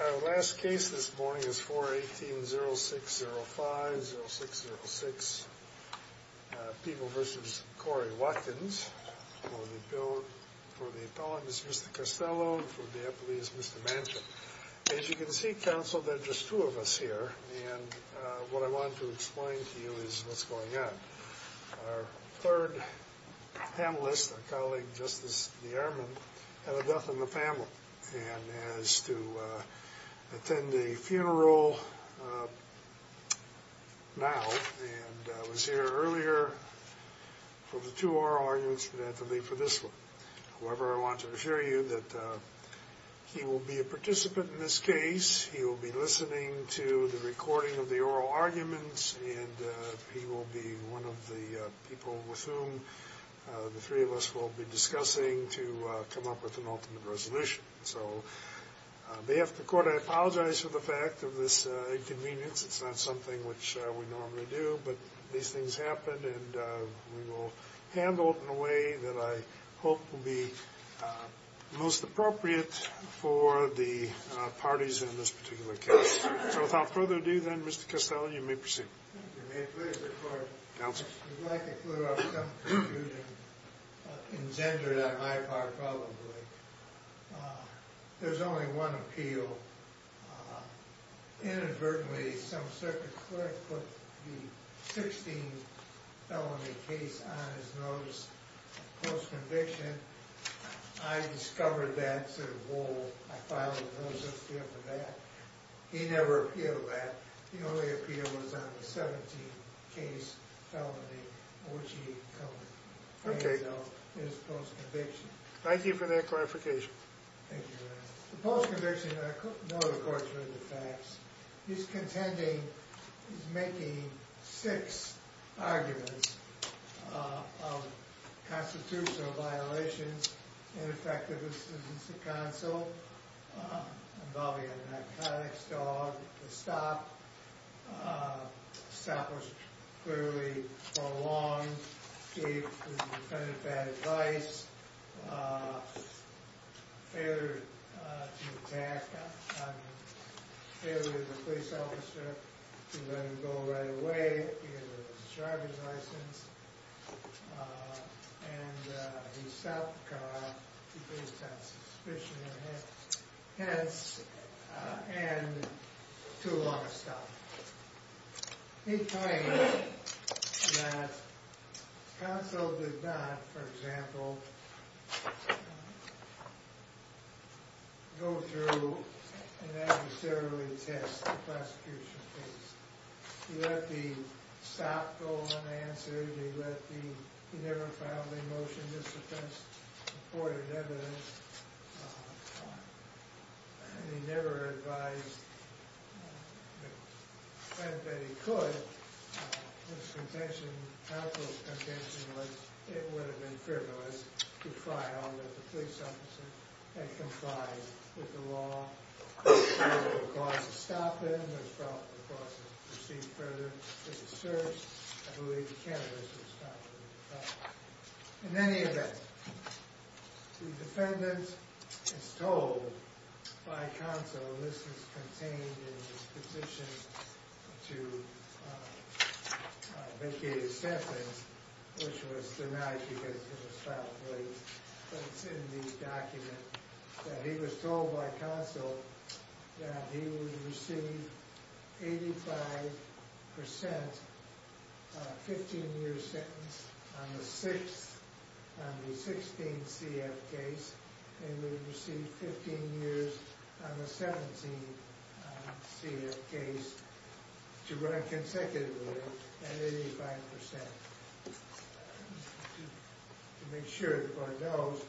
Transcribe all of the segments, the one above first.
Our last case this morning is 4-18-0605-0606, People v. Corey Watkins, for the appellants, Mr. Costello, and for the appellees, Mr. Manchin. As you can see, counsel, there are just two of us here, and what I want to explain to you is what's going on. Our third panelist, our colleague Justice DeArmond, had a death in the family, and has to attend a funeral now, and was here earlier for the two oral arguments, but had to leave for this one. However, I want to assure you that he will be a participant in this case, he will be listening to the recording of the oral arguments, and he will be one of the people with whom the three of us will be discussing to come up with an ultimate resolution. So, on behalf of the Court, I apologize for the fact of this inconvenience. It's not something which we normally do, but these things happen, and we will handle it in a way that I hope will be most appropriate for the parties in this particular case. So, without further ado, then, Mr. Costello, you may proceed. If you may, please, Your Honor. Counsel. If you'd like to clear up some confusion engendered on my part, probably. There's only one appeal. Inadvertently, some circuit clerk put the 16 felony case on his notice of post-conviction. I discovered that sort of bull, I filed a notice to him for that. He never appealed that. The only appeal was on the 17th case felony, which he covered himself in his post-conviction. Thank you for that clarification. Thank you, Your Honor. The post-conviction, I know the Court's heard the facts. He's contending, he's making six arguments of constitutional violations, ineffective assistance to counsel, involving an narcotics dog, the stop. Stop was clearly prolonged. Gave the defendant bad advice. Failure to attack, I mean, failure of the police officer to let him go right away. He had a driver's license. And he stopped the car. Based on suspicion of hence, and too long a stop. He claims that counsel did not, for example, go through and adversarially test the prosecution case. He let the stop go unanswered. He let the, he never filed a motion to suspend supported evidence. He never advised the defendant that he could. His contention, counsel's contention was it would have been frivolous to file that the police officer had complied with the law. There was no cause to stop him. There was no cause to proceed further with the search. I believe the cannabis was stopped in the process. In any event, the defendant is told by counsel, this is contained in his petition to vacate his sentence, which was denied because it was filed late. But it's in the document that he was told by counsel that he would receive 85% 15-year sentence on the 6th, on the 16th CF case. And he would receive 15 years on the 17th CF case to run consecutively at 85%. To make sure that one knows,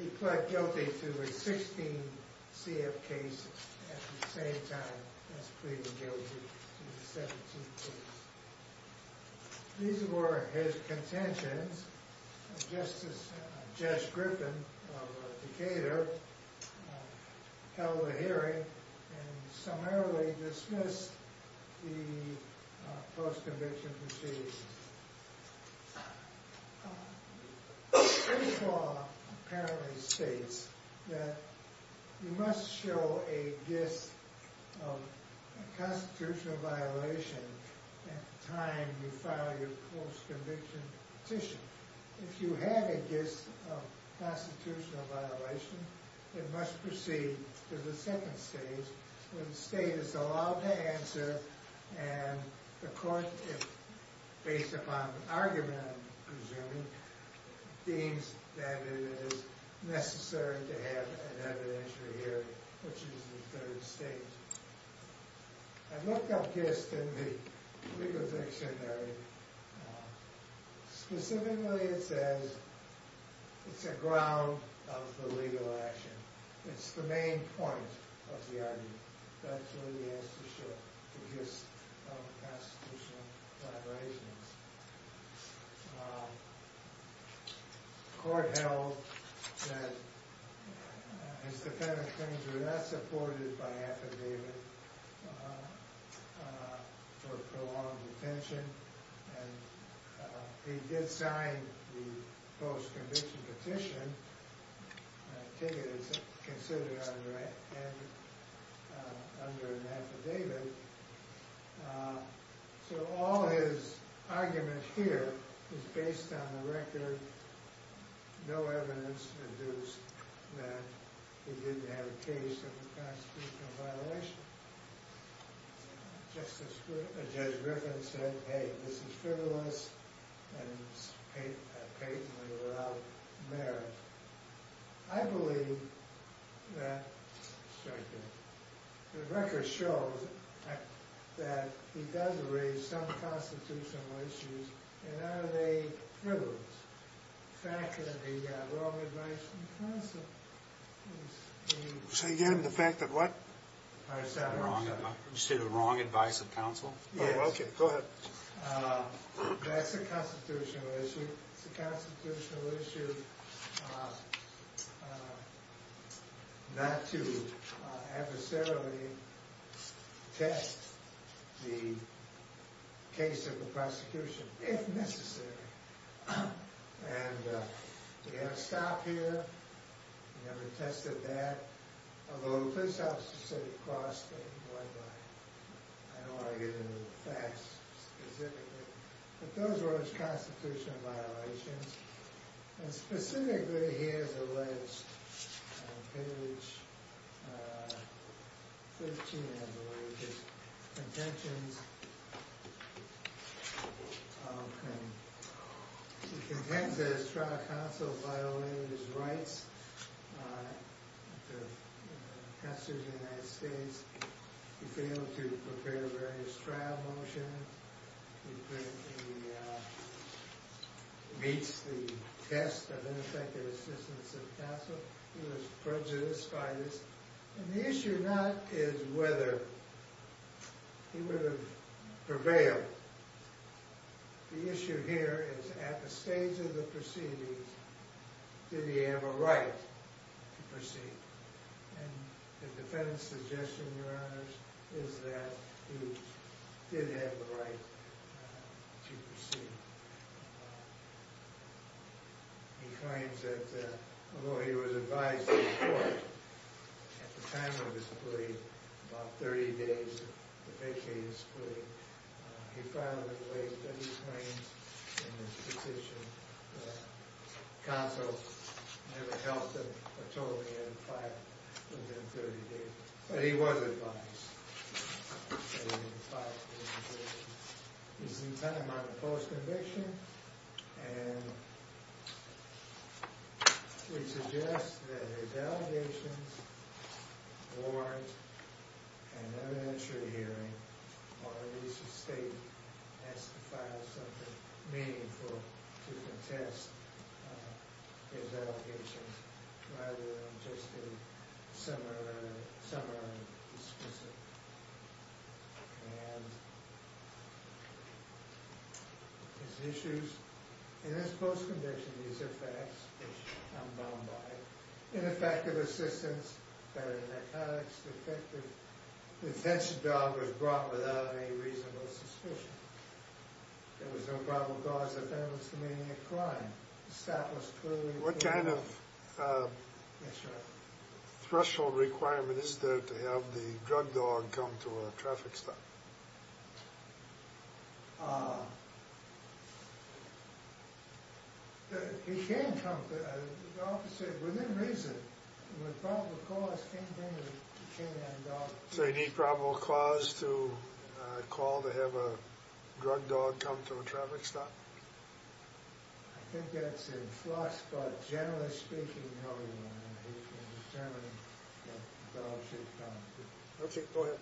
he pled guilty to the 16th CF case at the same time as pleading guilty to the 17th case. These were his contentions. Judge Griffin of Decatur held a hearing and summarily dismissed the post-conviction proceedings. This law apparently states that you must show a gist of constitutional violation at the time you file your post-conviction petition. If you have a gist of constitutional violation, it must proceed to the second stage when the state is allowed to answer and the court, based upon argument I'm presuming, deems that it is necessary to have an evidentiary hearing, which is the third stage. I looked up gist in the legal dictionary. Specifically, it says it's a ground of the legal action. It's the main point of the argument. That's really the answer to the gist of constitutional violations. The court held that his defendant claims were not supported by affidavit for prolonged detention. He did sign the post-conviction petition. That ticket is considered under an affidavit. All his argument here is based on the record, no evidence that he did have a case of constitutional violation. Judge Griffin said, hey, this is frivolous and patently without merit. I believe that the record shows that he does raise some constitutional issues. And are they frivolous? The fact that he got wrong advice from counsel. So you get him the fact that what? I'm sorry. You said wrong advice from counsel? Yes. Go ahead. That's a constitutional issue. It's a constitutional issue not to adversarially test the case of the prosecution, if necessary. And we have a stop here. We never tested that. Although the police officer said it crossed the line. I don't want to get into the facts specifically. But those were his constitutional violations. And specifically, he has alleged on page 13, I believe, his contentions. He contends that his trial counsel violated his rights. Counsel of the United States. He failed to prepare various trial motions. He meets the test of ineffective assistance of counsel. He was prejudiced by this. And the issue not is whether he would have prevailed. The issue here is at the stage of the proceedings, did he have a right to proceed? And the defendant's suggestion, Your Honors, is that he did have the right to proceed. He claims that although he was advised in court at the time of his plea, about 30 days of vacating his plea, he filed it late. And he claims in his petition that counsel never helped him or told him he had to file within 30 days. But he was advised that he had to file his petition. This is the time of the post-conviction. And we suggest that his allegations warrant an evidentiary hearing, or at least a state has to file something meaningful to contest his allegations, rather than just a summary. And his issues in this post-conviction, these are facts, which I'm bound by. Ineffective assistance, better narcotics, defective. The offensive dog was brought without any reasonable suspicion. There was no probable cause of evidence for committing a crime. Established clearly. And what kind of threshold requirement is there to have the drug dog come to a traffic stop? He can come. The officer, within reason, with probable cause, can't bring the dog. So you need probable cause to call to have a drug dog come to a traffic stop? I think that's in floss, but generally speaking, no, Your Honor. We can determine that the dog should come. Okay, go ahead.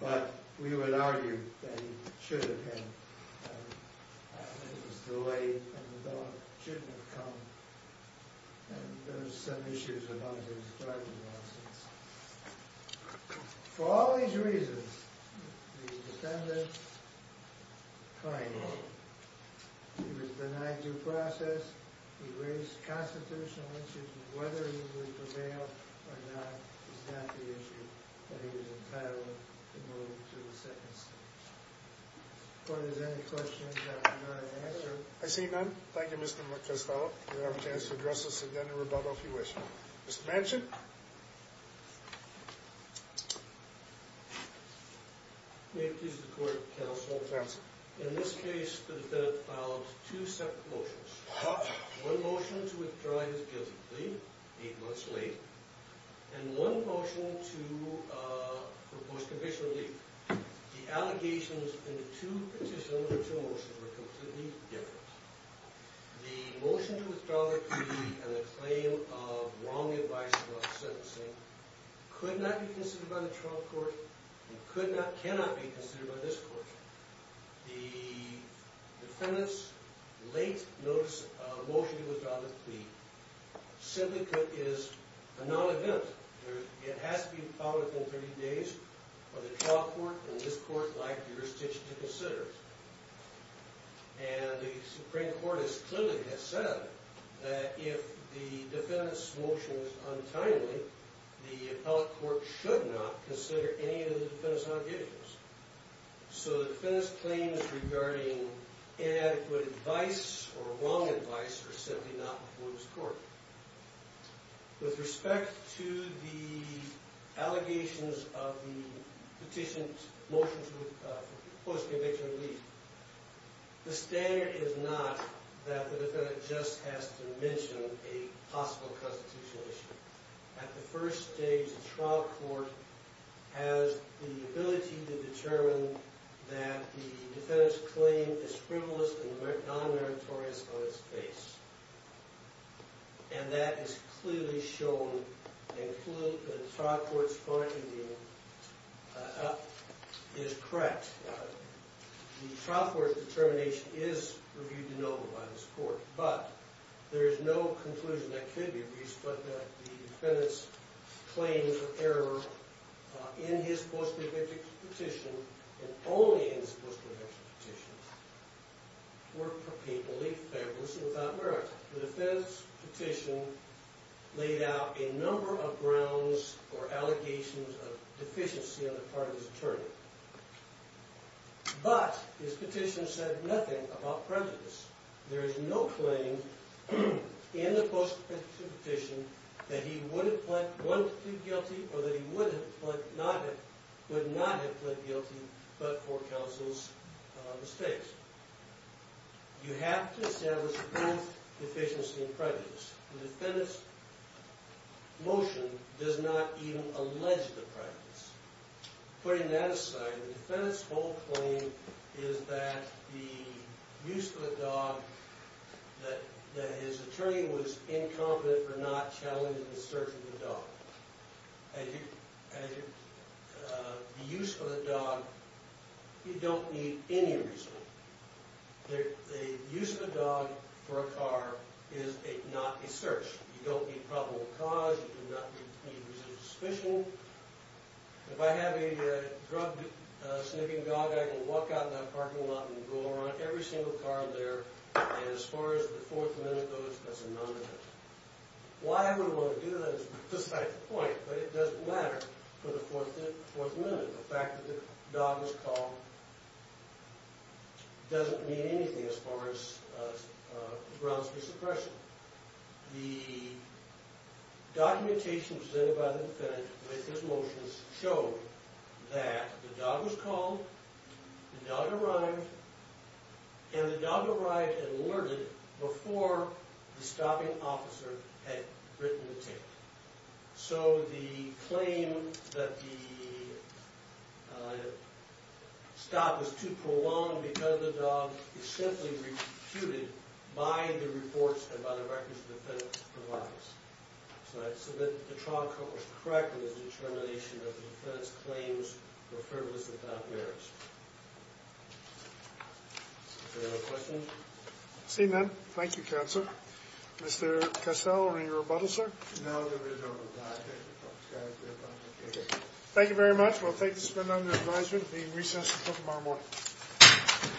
But we would argue that he should have come. It was too late and the dog shouldn't have come. And there's some issues about his drug abuse. For all these reasons, the defendant claimed he was benign due process. He raised constitutional issues. Whether he would prevail or not is not the issue. But he was entitled to move to the second stage. If there's any questions, I have none. I see none. Thank you, Mr. McCastello. You have a chance to address us again in rebuttal if you wish. Mr. Manson? May it please the court, counsel. In this case, the defendant filed two separate motions. One motion to withdraw his guilty plea, eight months late. And one motion for post-conviction relief. The allegations in the two petitions and the two motions were completely different. The motion to withdraw the plea and the claim of wrongly advising about sentencing could not be considered by the trial court and cannot be considered by this court. The defendant's late motion to withdraw the plea simply is a non-event. It has to be filed within 30 days or the trial court and this court lack jurisdiction to consider it. And the Supreme Court has clearly said that if the defendant's motion is untimely, the appellate court should not consider any of the defendant's allegations. So the defendant's claims regarding inadequate advice or wrong advice are simply not before this court. With respect to the allegations of the petitioned motion for post-conviction relief, the standard is not that the defendant just has to mention a possible constitutional issue. At the first stage, the trial court has the ability to determine that the defendant's claim is frivolous and non-meritorious on its face. And that is clearly shown and the trial court's finding is correct. The trial court's determination is reviewed to no avail by this court, but there is no conclusion that could be reached but that the defendant's claims of error in his post-conviction petition and only in his post-conviction petition were purposely frivolous and without merit. The defendant's petition laid out a number of grounds for allegations of deficiency on the part of his attorney. But his petition said nothing about prejudice. There is no claim in the post-conviction petition that he would have pleaded not guilty but for counsel's mistakes. You have to establish proof, deficiency, and prejudice. The defendant's motion does not even allege the prejudice. Putting that aside, the defendant's whole claim is that the use of the dog, that his attorney was incompetent for not challenging the search of the dog. The use of the dog, you don't need any reason. The use of the dog for a car is not a search. You don't need probable cause. You do not need reason to suspicion. If I have a drug-sniffing dog, I can walk out in that parking lot and go around every single car there, and as far as the fourth amendment goes, that's a non-defense. Why I would want to do that is beside the point, but it doesn't matter for the fourth amendment. The fact that the dog was called doesn't mean anything as far as grounds for suppression. The documentation presented by the defendant with his motions showed that the dog was called, the dog arrived, and the dog arrived and alerted before the stopping officer had written the tape. So the claim that the stop was too prolonged because of the dog is simply re-computed by the reports and by the records the defendant provides. So the trial court was correct in its determination that the defendant's claims were frivolous and non-merits. Is there any other questions? Seeing none, thank you, counsel. Mr. Cassell, are there any rebuttals, sir? No, there is no rebuttal. Thank you very much. We'll take this amendment under advisement. The recess is until tomorrow morning.